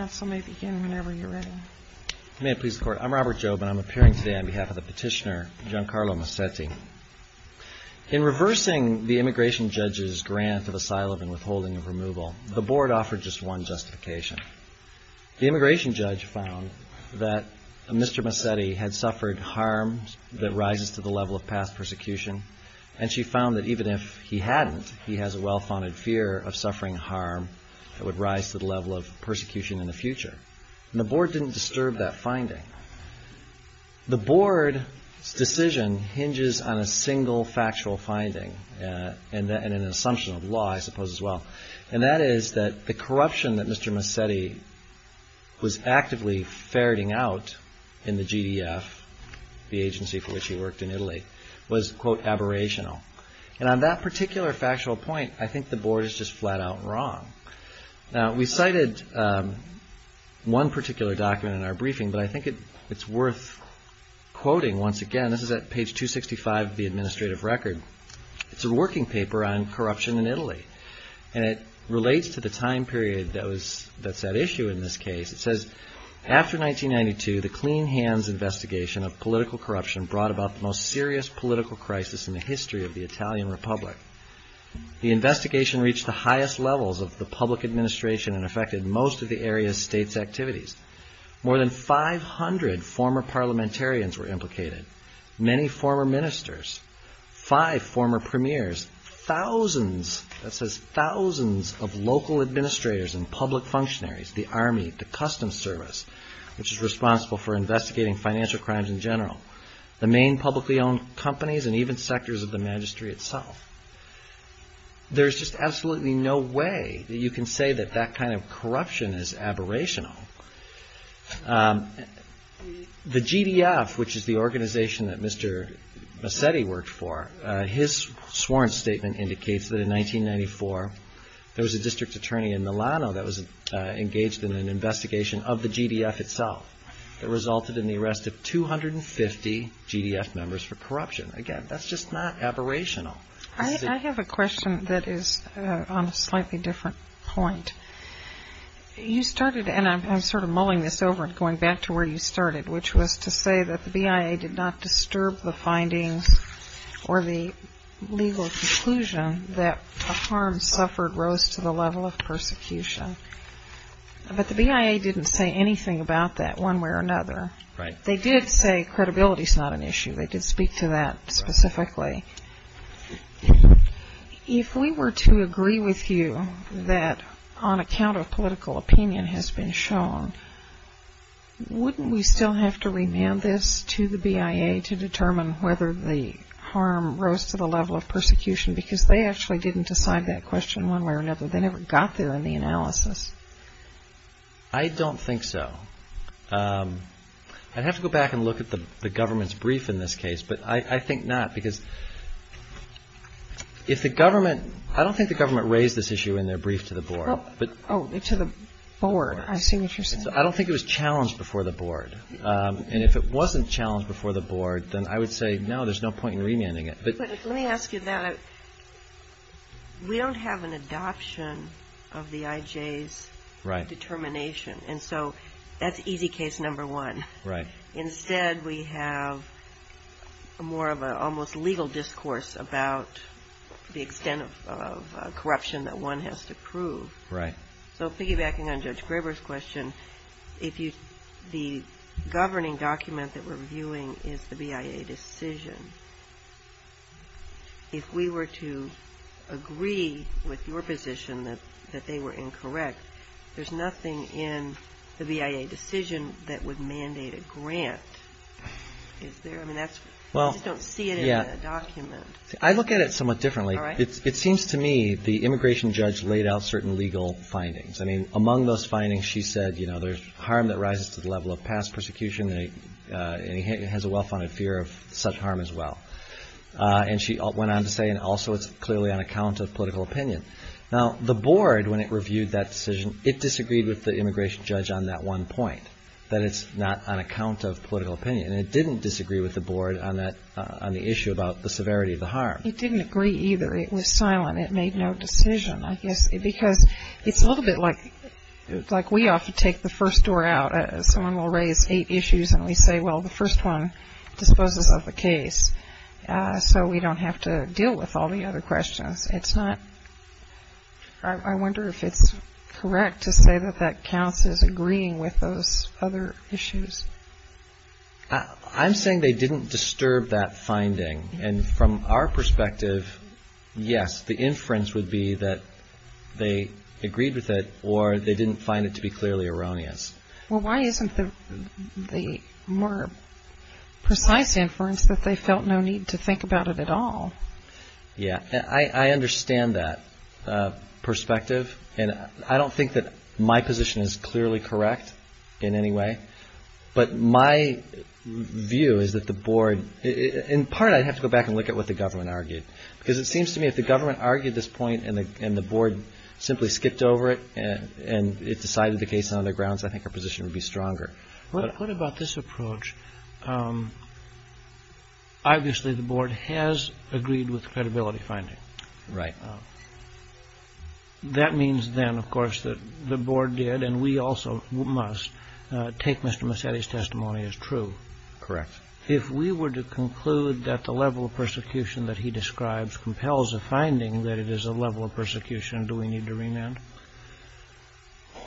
I'm Robert Jobe and I'm appearing today on behalf of the petitioner Giancarlo Massetti. In reversing the immigration judge's grant of asylum and withholding of removal, the Board offered just one justification. The immigration judge found that Mr. Massetti had suffered harm that rises to the level of past persecution, and she found that even if he hadn't, he has a well-founded fear of suffering harm that would rise to the level of persecution in the future. The Board didn't disturb that finding. The Board's decision hinges on a single factual finding, and an assumption of law I suppose as well, and that is that the corruption that Mr. Massetti was actively ferreting out in the GDF, the agency for which he worked in Italy, was, quote, aberrational. And on that particular factual point, I think the Board is just flat-out wrong. Now we cited one particular document in our briefing, but I think it's worth quoting once again. This is at page 265 of the administrative record. It's a working paper on corruption in Italy, and it relates to the time period that's at issue in this case. It says, After 1992, the Clean Hands investigation of political corruption brought about the most serious political crisis in the history of the Italian Republic. The investigation reached the highest levels of the public administration and affected most of the area's state's activities. More than 500 former parliamentarians were implicated, many former ministers, five former premiers, thousands, that says thousands, of local administrators and public functionaries, the Army, the Customs Service, which is responsible for investigating financial crimes in general, the main publicly owned companies, and even sectors of the magistrate itself. There's just absolutely no way that you can say that that kind of corruption is aberrational. The GDF, which is the organization that Mr. Massetti worked for, his sworn statement indicates that in 1994, there was a district attorney in Milano that was engaged in an investigation of the GDF itself that resulted in the arrest of 250 GDF members for corruption. Again, that's just not aberrational. I have a question that is on a slightly different point. You started, and I'm sort of mulling this over and going back to where you started, which was to say that the BIA did not disturb the findings or the legal conclusion that a harm suffered rose to the level of persecution. But the BIA didn't say anything about that one way or another. They did say credibility is not an issue. They did speak to that specifically. If we were to agree with you that on account of political opinion has been shown, wouldn't we still have to remand this to the BIA to determine whether the harm rose to the level of persecution? Because they actually didn't decide that question one way or another. They never got there in the analysis. I don't think so. I'd have to go back and look at the government's brief in this case, but I think not. I don't think the government raised this issue in their brief to the board. I don't think it was challenged before the board. And if it wasn't challenged before the board, then I would say, no, there's no point in remanding it. Let me ask you that. We don't have an adoption of the IJ's determination, and so that's easy case number one. Instead, we have more of an almost legal discourse about the extent of corruption that one has to prove. So piggybacking on Judge Graber's question, the governing document that we're reviewing is the BIA decision. If we were to agree with your position that they were incorrect, there's nothing in the BIA decision that would mandate a grant. I just don't see it in the document. I look at it somewhat differently. It seems to me the immigration judge laid out certain legal findings. I mean, among those findings, she said, you know, there's harm that rises to the level of past persecution, and he has a well-funded fear of such harm as well. And she went on to say, and also it's clearly on account of political opinion. Now, the board, when it reviewed that decision, it disagreed with the immigration judge on that one point, that it's not on account of political opinion. And it didn't disagree with the board on that, on the issue about the severity of the harm. It didn't agree either. It was silent. It made no decision, I guess, because it's a little bit like we often take the first door out. Someone will raise eight issues, and we say, well, the first one disposes of the case. So we don't have to deal with all the other questions. It's not — I wonder if it's correct to say that that counts as agreeing with those other issues. I'm saying they didn't disturb that finding. And from our perspective, yes, the inference would be that they agreed with it, or they didn't find it to be clearly erroneous. Well, why isn't the more precise inference that they felt no need to think about it at all? Yeah. I understand that perspective. And I don't think that my position is clearly correct in any way. But my view is that the board — in part, I'd have to go back and look at what the government argued. Because it seems to me if the government argued this point and the board simply skipped over it and it decided the case on other grounds, I think our position would be stronger. What about this approach? Obviously, the board has agreed with credibility finding. Right. That means then, of course, that the board did, and we also must, take Mr. Massetti's testimony as true. Correct. If we were to conclude that the level of persecution that he describes compels a finding that it is a level of persecution, do we need to remand?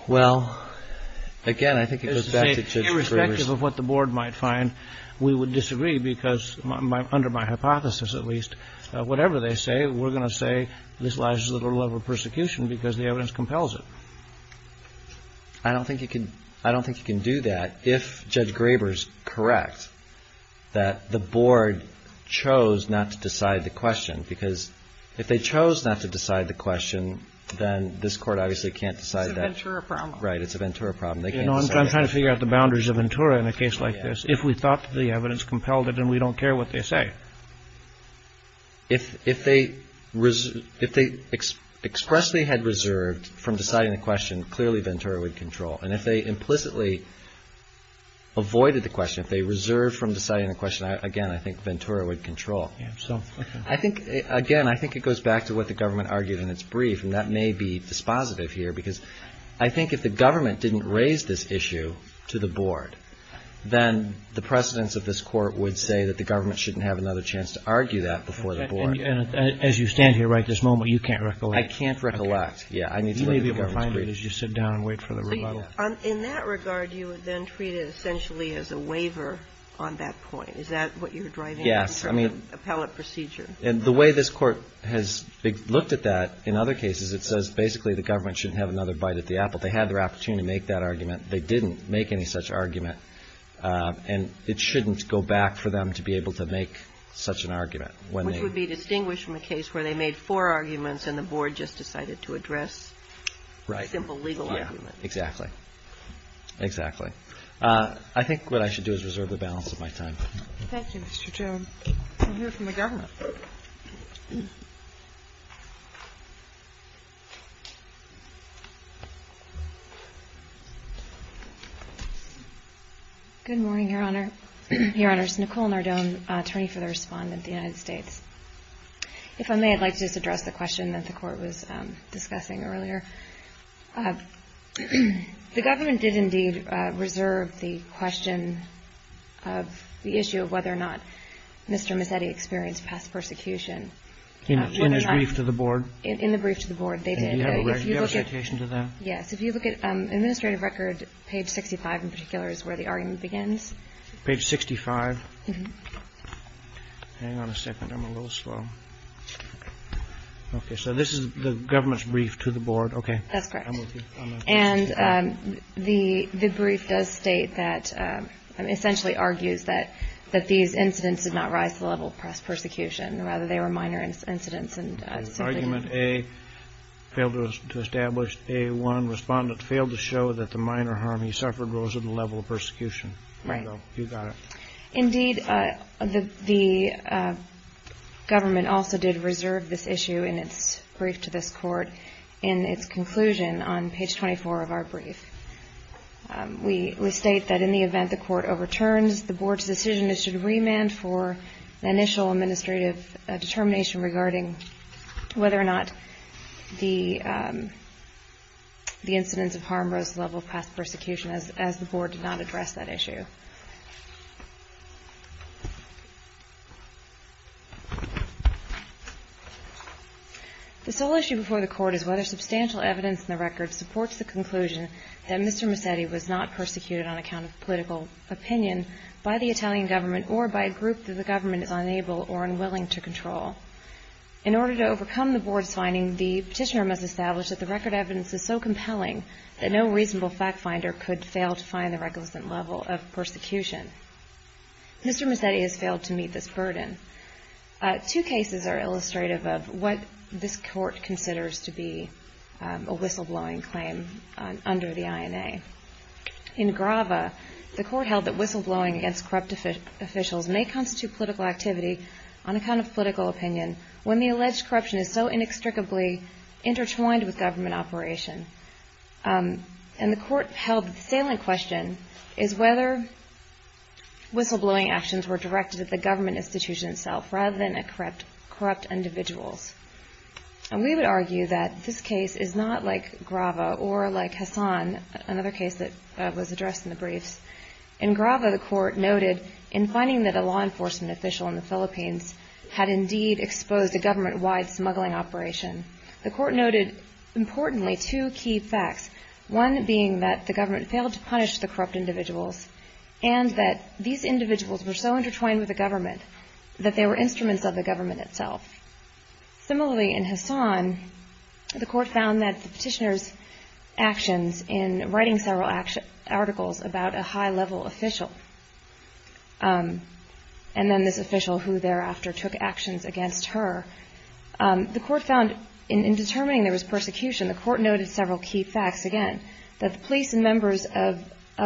Well, again, I think it goes back to — Irrespective of what the board might find, we would disagree because under my hypothesis, at least, whatever they say, we're going to say this lies in the level of persecution because the evidence compels it. I don't think you can do that if Judge Graber is correct that the board chose not to decide the question. Because if they chose not to decide the question, then this Court obviously can't decide that. It's a Ventura problem. Right. It's a Ventura problem. They can't decide that. You know, I'm trying to figure out the boundaries of Ventura in a case like this. If we thought the evidence compelled it, then we don't care what they say. If they expressly had reserved from deciding the question, clearly Ventura would control. And if they implicitly avoided the question, if they reserved from deciding the question, again, I think Ventura would control. Yeah, so — I think — again, I think it goes back to what the government argued in its brief, and that may be dispositive here because I think if the government didn't raise this issue to the board, then the precedents of this Court would say that the government shouldn't have another chance to argue that before the board. And as you stand here right this moment, you can't recollect. I can't recollect. Yeah, I need to look at the government's brief. You may be able to find it as you sit down and wait for the rebuttal. In that regard, you would then treat it essentially as a waiver on that point. Is that what you're driving? Yes. I mean, appellate procedure. And the way this Court has looked at that in other cases, it says basically the government shouldn't have another bite at the apple. They had their opportunity to make that argument. They didn't make any such argument. And it shouldn't go back for them to be able to make such an argument when they — Which would be distinguished from a case where they made four arguments and the board just decided to address a simple legal argument. Right. Yeah. Exactly. Exactly. I think what I should do is reserve the balance of my time. Thank you, Mr. Jones. We'll hear from the government. Good morning, Your Honor. Your Honors, Nicole Nardone, attorney for the respondent of the United States. If I may, I'd like to just address the question that the Court was discussing earlier. The government did indeed reserve the question of the issue of whether or not Mr. Mazzetti experienced past persecution. In his brief to the board? In the brief to the board, they did. Do you have a citation to that? Yes. If you look at administrative record, page 65 in particular is where the argument begins. Page 65. Hang on a second. I'm a little slow. OK. So this is the government's brief to the board. OK. That's correct. And the brief does state that — essentially argues that these incidents did not rise to the level of past persecution. Rather, they were minor incidents. Argument A, failed to establish. A1, respondent failed to show that the minor harm he suffered rose to the level of persecution. Right. You got it. Indeed, the government also did reserve this issue in its brief to this Court in its conclusion on page 24 of our brief. We state that in the event the Court overturns, the board's decision is to remand for an initial administrative determination regarding whether or not the incidents of harm rose to the level of past persecution, as the board did not address that issue. The sole issue before the Court is whether substantial evidence in the record supports the conclusion that Mr. Massetti was not persecuted on account of political opinion by the Italian government or by a group that the government is unable or unwilling to control. In order to overcome the board's finding, the petitioner must establish that the record evidence is so compelling that no reasonable fact-finder could fail to find the requisite level of persecution. Mr. Massetti has failed to meet this burden. Two cases are illustrative of what this Court considers to be a whistleblowing claim under the INA. In Grava, the Court held that whistleblowing against corrupt officials may constitute political activity on account of political opinion, when the alleged corruption is so inextricably intertwined with government operation. And the Court held that the salient question is whether whistleblowing actions were directed at the government institution itself, rather than at corrupt individuals. We would argue that this case is not like Grava or like Hassan, another case that was addressed in the briefs. In Grava, the Court noted in finding that a law enforcement official in the Philippines had indeed exposed a government-wide smuggling operation, the Court noted, importantly, two key facts, one being that the government failed to punish the corrupt individuals that they were instruments of the government itself. Similarly, in Hassan, the Court found that the petitioner's actions in writing several articles about a high-level official and then this official who thereafter took actions against her, the Court found in determining there was persecution, the Court noted several key facts, again, that the police and members of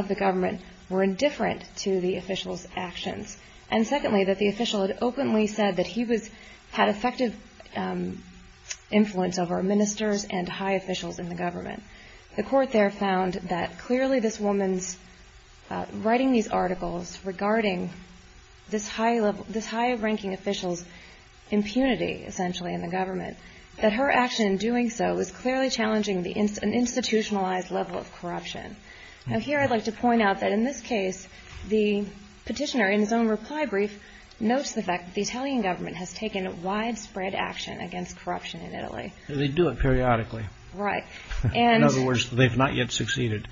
the government were indifferent to the official's actions and, secondly, that the official had openly said that he had effective influence over ministers and high officials in the government. The Court there found that, clearly, this woman's writing these articles regarding this high-ranking official's impunity, essentially, in the government, that her action in doing so was clearly challenging an institutionalized level of corruption. Now, here I'd like to point out that, in this case, the petitioner, in his own reply brief, notes the fact that the Italian government has taken widespread action against corruption in Italy. They do it periodically. Right. In other words, they've not yet succeeded.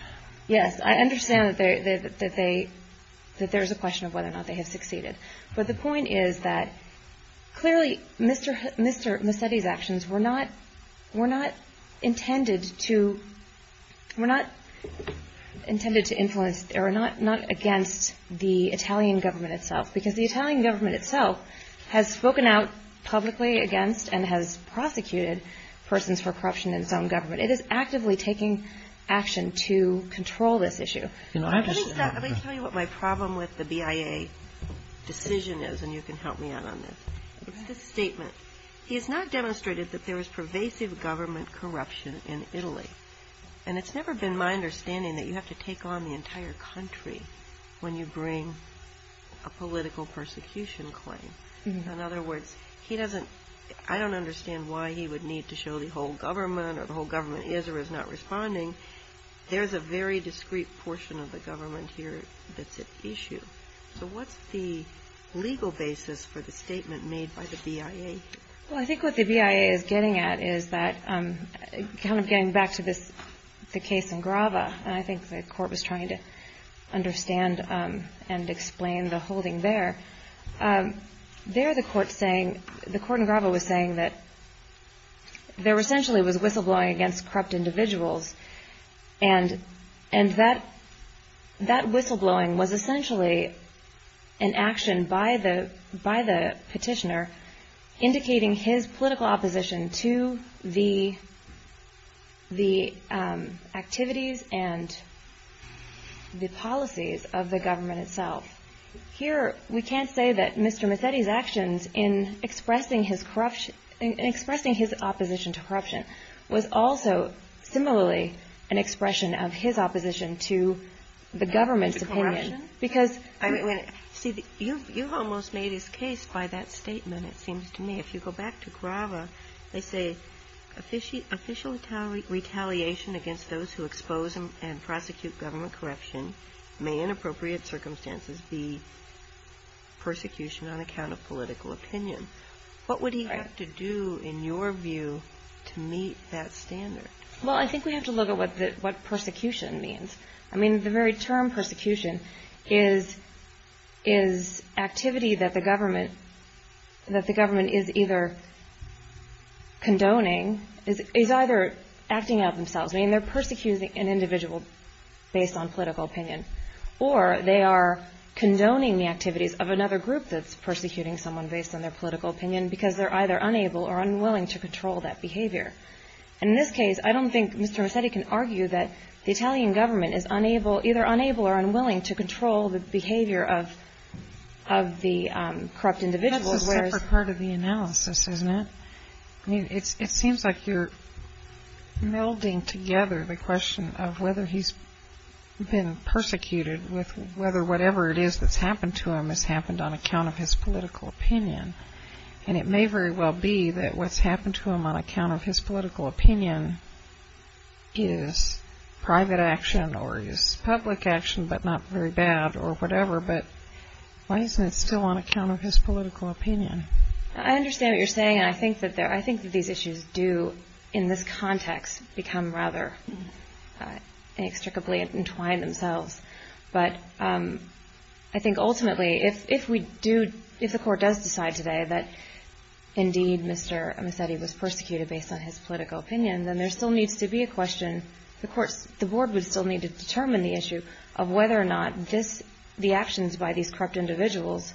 Yes, I understand that there's a question of whether or not they have succeeded. But the point is that, clearly, Mr. Messetti's actions were not intended to influence or not against the Italian government itself, because the Italian government itself has spoken out publicly against and has prosecuted persons for corruption in its own government. It is actively taking action to control this issue. Let me tell you what my problem with the BIA decision is, and you can help me out on this. It's this statement. He has not demonstrated that there is pervasive government corruption in Italy. And it's never been my understanding that you have to take on the entire country when you bring a political persecution claim. In other words, I don't understand why he would need to show the whole government or the whole government is or is not responding. There's a very discreet portion of the government here that's at issue. So what's the legal basis for the statement made by the BIA? Well, I think what the BIA is getting at is that, kind of getting back to the case in Grava, and I think the Court was trying to understand and explain the holding there. There, the Court in Grava was saying that there essentially was whistleblowing against corrupt individuals. And that whistleblowing was essentially an action by the petitioner indicating his political opposition to the activities and the policies of the government itself. Here, we can't say that Mr. Massetti's actions in expressing his opposition to corruption was also similarly an expression of his opposition to the government's opinion. You almost made his case by that statement, it seems to me. If you go back to Grava, they say, official retaliation against those who expose and prosecute government corruption may, in appropriate circumstances, be persecution on account of political opinion. What would he have to do, in your view, to meet that standard? Well, I think we have to look at what persecution means. I mean, the very term persecution is activity that the government is either condoning, is either acting out themselves. I mean, they're persecuting an individual based on political opinion. Or they are condoning the activities of another group that's persecuting someone based on their political opinion because they're either unable or unwilling to control that behavior. And in this case, I don't think Mr. Massetti can argue that the Italian government is either unable or unwilling to control the behavior of the corrupt individuals. That's a separate part of the analysis, isn't it? I mean, it seems like you're melding together the question of whether he's been persecuted with whether whatever it is that's happened to him has happened on account of his political opinion. And it may very well be that what's happened to him on account of his political opinion is private action or is public action but not very bad or whatever. But why isn't it still on account of his political opinion? I understand what you're saying. I think that these issues do, in this context, become rather inextricably entwined themselves. But I think ultimately, if the court does decide today that indeed Mr. Massetti was persecuted based on his political opinion, then there still needs to be a question. The board would still need to determine the issue of whether or not the actions by these corrupt individuals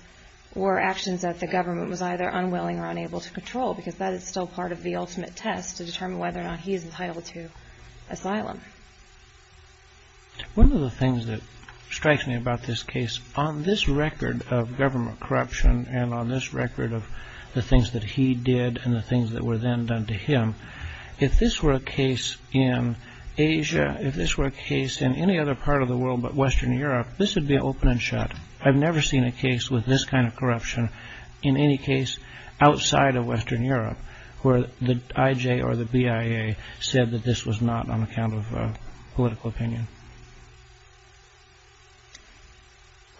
were actions that the government was either unwilling or unable to control because that is still part of the ultimate test to determine whether or not he is entitled to asylum. One of the things that strikes me about this case on this record of government corruption and on this record of the things that he did and the things that were then done to him if this were a case in Asia if this were a case in any other part of the world but Western Europe this would be open and shut. I've never seen a case with this kind of corruption in any case outside of Western Europe where the IJ or the BIA said that this was not on account of political opinion.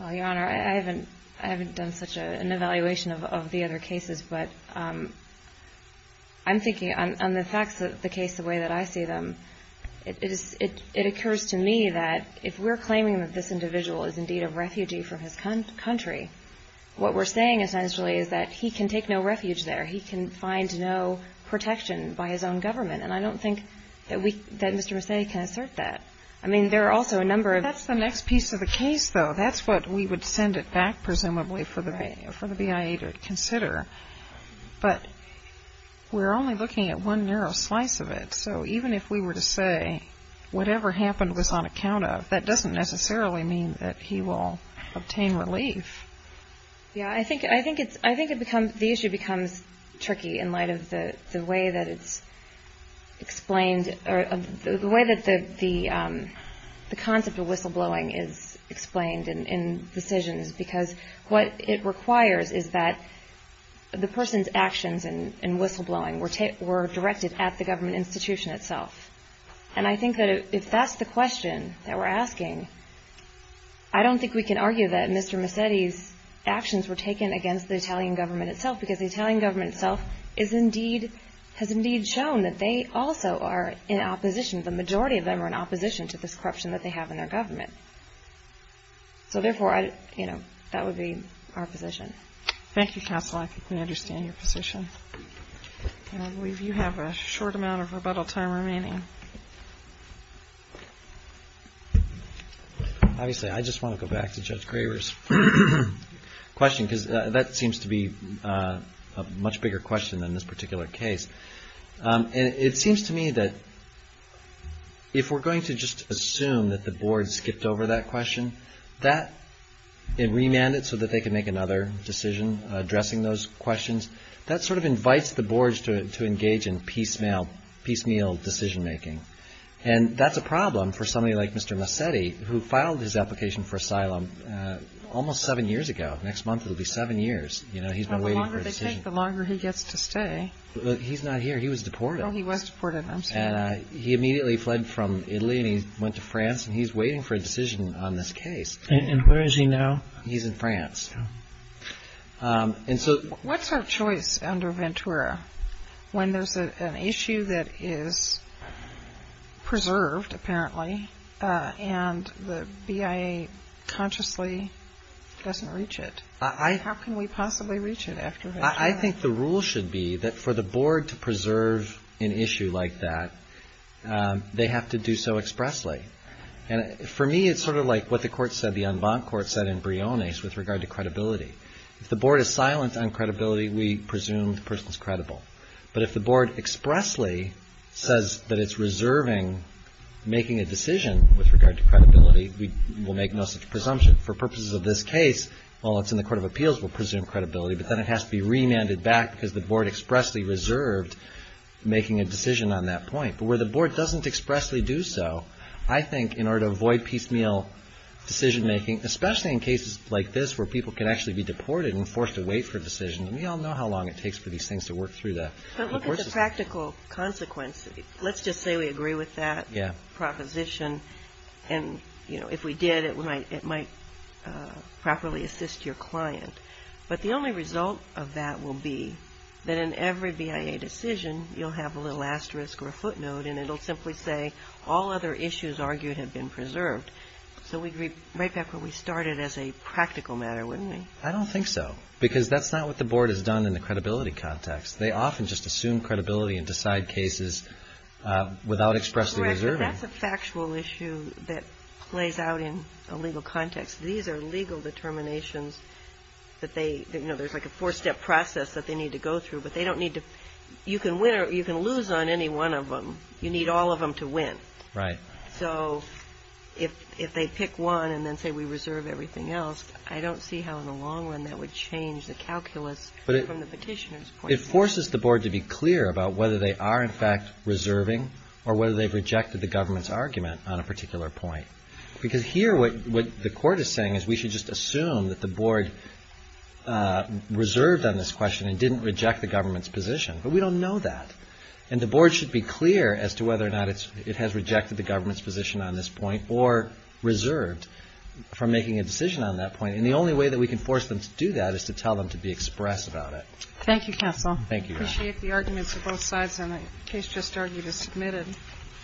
Your Honor, I haven't done such an evaluation of the other cases but I'm thinking on the facts of the case the way that I see them it occurs to me that if we're claiming that this individual is indeed a refugee from his country what we're saying essentially is that he can take no refuge there he can find no protection by his own government and I don't think that Mr. Messina can assert that. I mean there are also a number of... That's the next piece of the case though that's what we would send it back presumably for the BIA to consider but we're only looking at one narrow slice of it so even if we were to say whatever happened was on account of that doesn't necessarily mean that he will obtain relief. Yeah, I think the issue becomes tricky in light of the way that it's explained the way that the concept of whistleblowing is explained in decisions because what it requires is that the person's actions in whistleblowing were directed at the government institution itself and I think that if that's the question that we're asking I don't think we can argue that Mr. Massetti's actions were taken against the Italian government itself because the Italian government itself has indeed shown that they also are in opposition the majority of them are in opposition to this corruption that they have in their government so therefore that would be our position. Thank you, Counselor. I can understand your position and I believe you have a short amount of rebuttal time remaining. Obviously I just want to go back to Judge Graver's question because that seems to be a much bigger question than this particular case and it seems to me that if we're going to just assume that the Board skipped over that question that it remanded so that they can make another decision addressing those questions that sort of invites the Board to engage in piecemeal decision making and that's a problem for somebody like Mr. Massetti who filed his application for asylum almost seven years ago next month it will be seven years the longer he gets to stay he's not here, he was deported he was deported, I'm sorry he immediately fled from Italy and he went to France and he's waiting for a decision on this case and where is he now? he's in France what's our choice under Ventura when there's an issue that is preserved apparently and the BIA consciously doesn't reach it how can we possibly reach it after Ventura? I think the rule should be that for the Board to preserve an issue like that they have to do so expressly for me it's sort of like what the court said the en banc court said in Briones with regard to credibility if the Board is silent on credibility we presume the person is credible but if the Board expressly says that it's reserving making a decision with regard to credibility we'll make no such presumption for purposes of this case while it's in the Court of Appeals we'll presume credibility but then it has to be remanded back because the Board expressly reserved making a decision on that point but where the Board doesn't expressly do so I think in order to avoid piecemeal decision making, especially in cases like this where people can actually be deported and forced to wait for a decision we all know how long it takes for these things to work through but look at the practical consequence let's just say we agree with that proposition and if we did it might properly assist your client but the only result of that will be that in every BIA decision you'll have a little asterisk or a footnote and it'll simply say all other issues argued have been preserved so we'd be right back where we started as a practical matter, wouldn't we? I don't think so, because that's not what the Board has done in the credibility context they often just assume credibility and decide cases without expressly reserving that's a factual issue that plays out in a legal context these are legal determinations that they there's like a four step process that they need to go through but they don't need to you can lose on any one of them you need all of them to win so if they pick one and then say we reserve everything else I don't see how in the long run that would change the calculus from the petitioner's point of view it forces the Board to be clear about whether they are in fact reserving or whether they've rejected the government's argument on a particular point because here what the Court is saying is we should just assume that the Board reserved on this question and didn't reject the government's position but we don't know that and the Board should be clear as to whether or not it has rejected the government's position on this point or reserved from making a decision on that point and the only way that we can force them to do that is to tell them to be express about it Thank you counsel I appreciate the arguments of both sides and the case just argued is submitted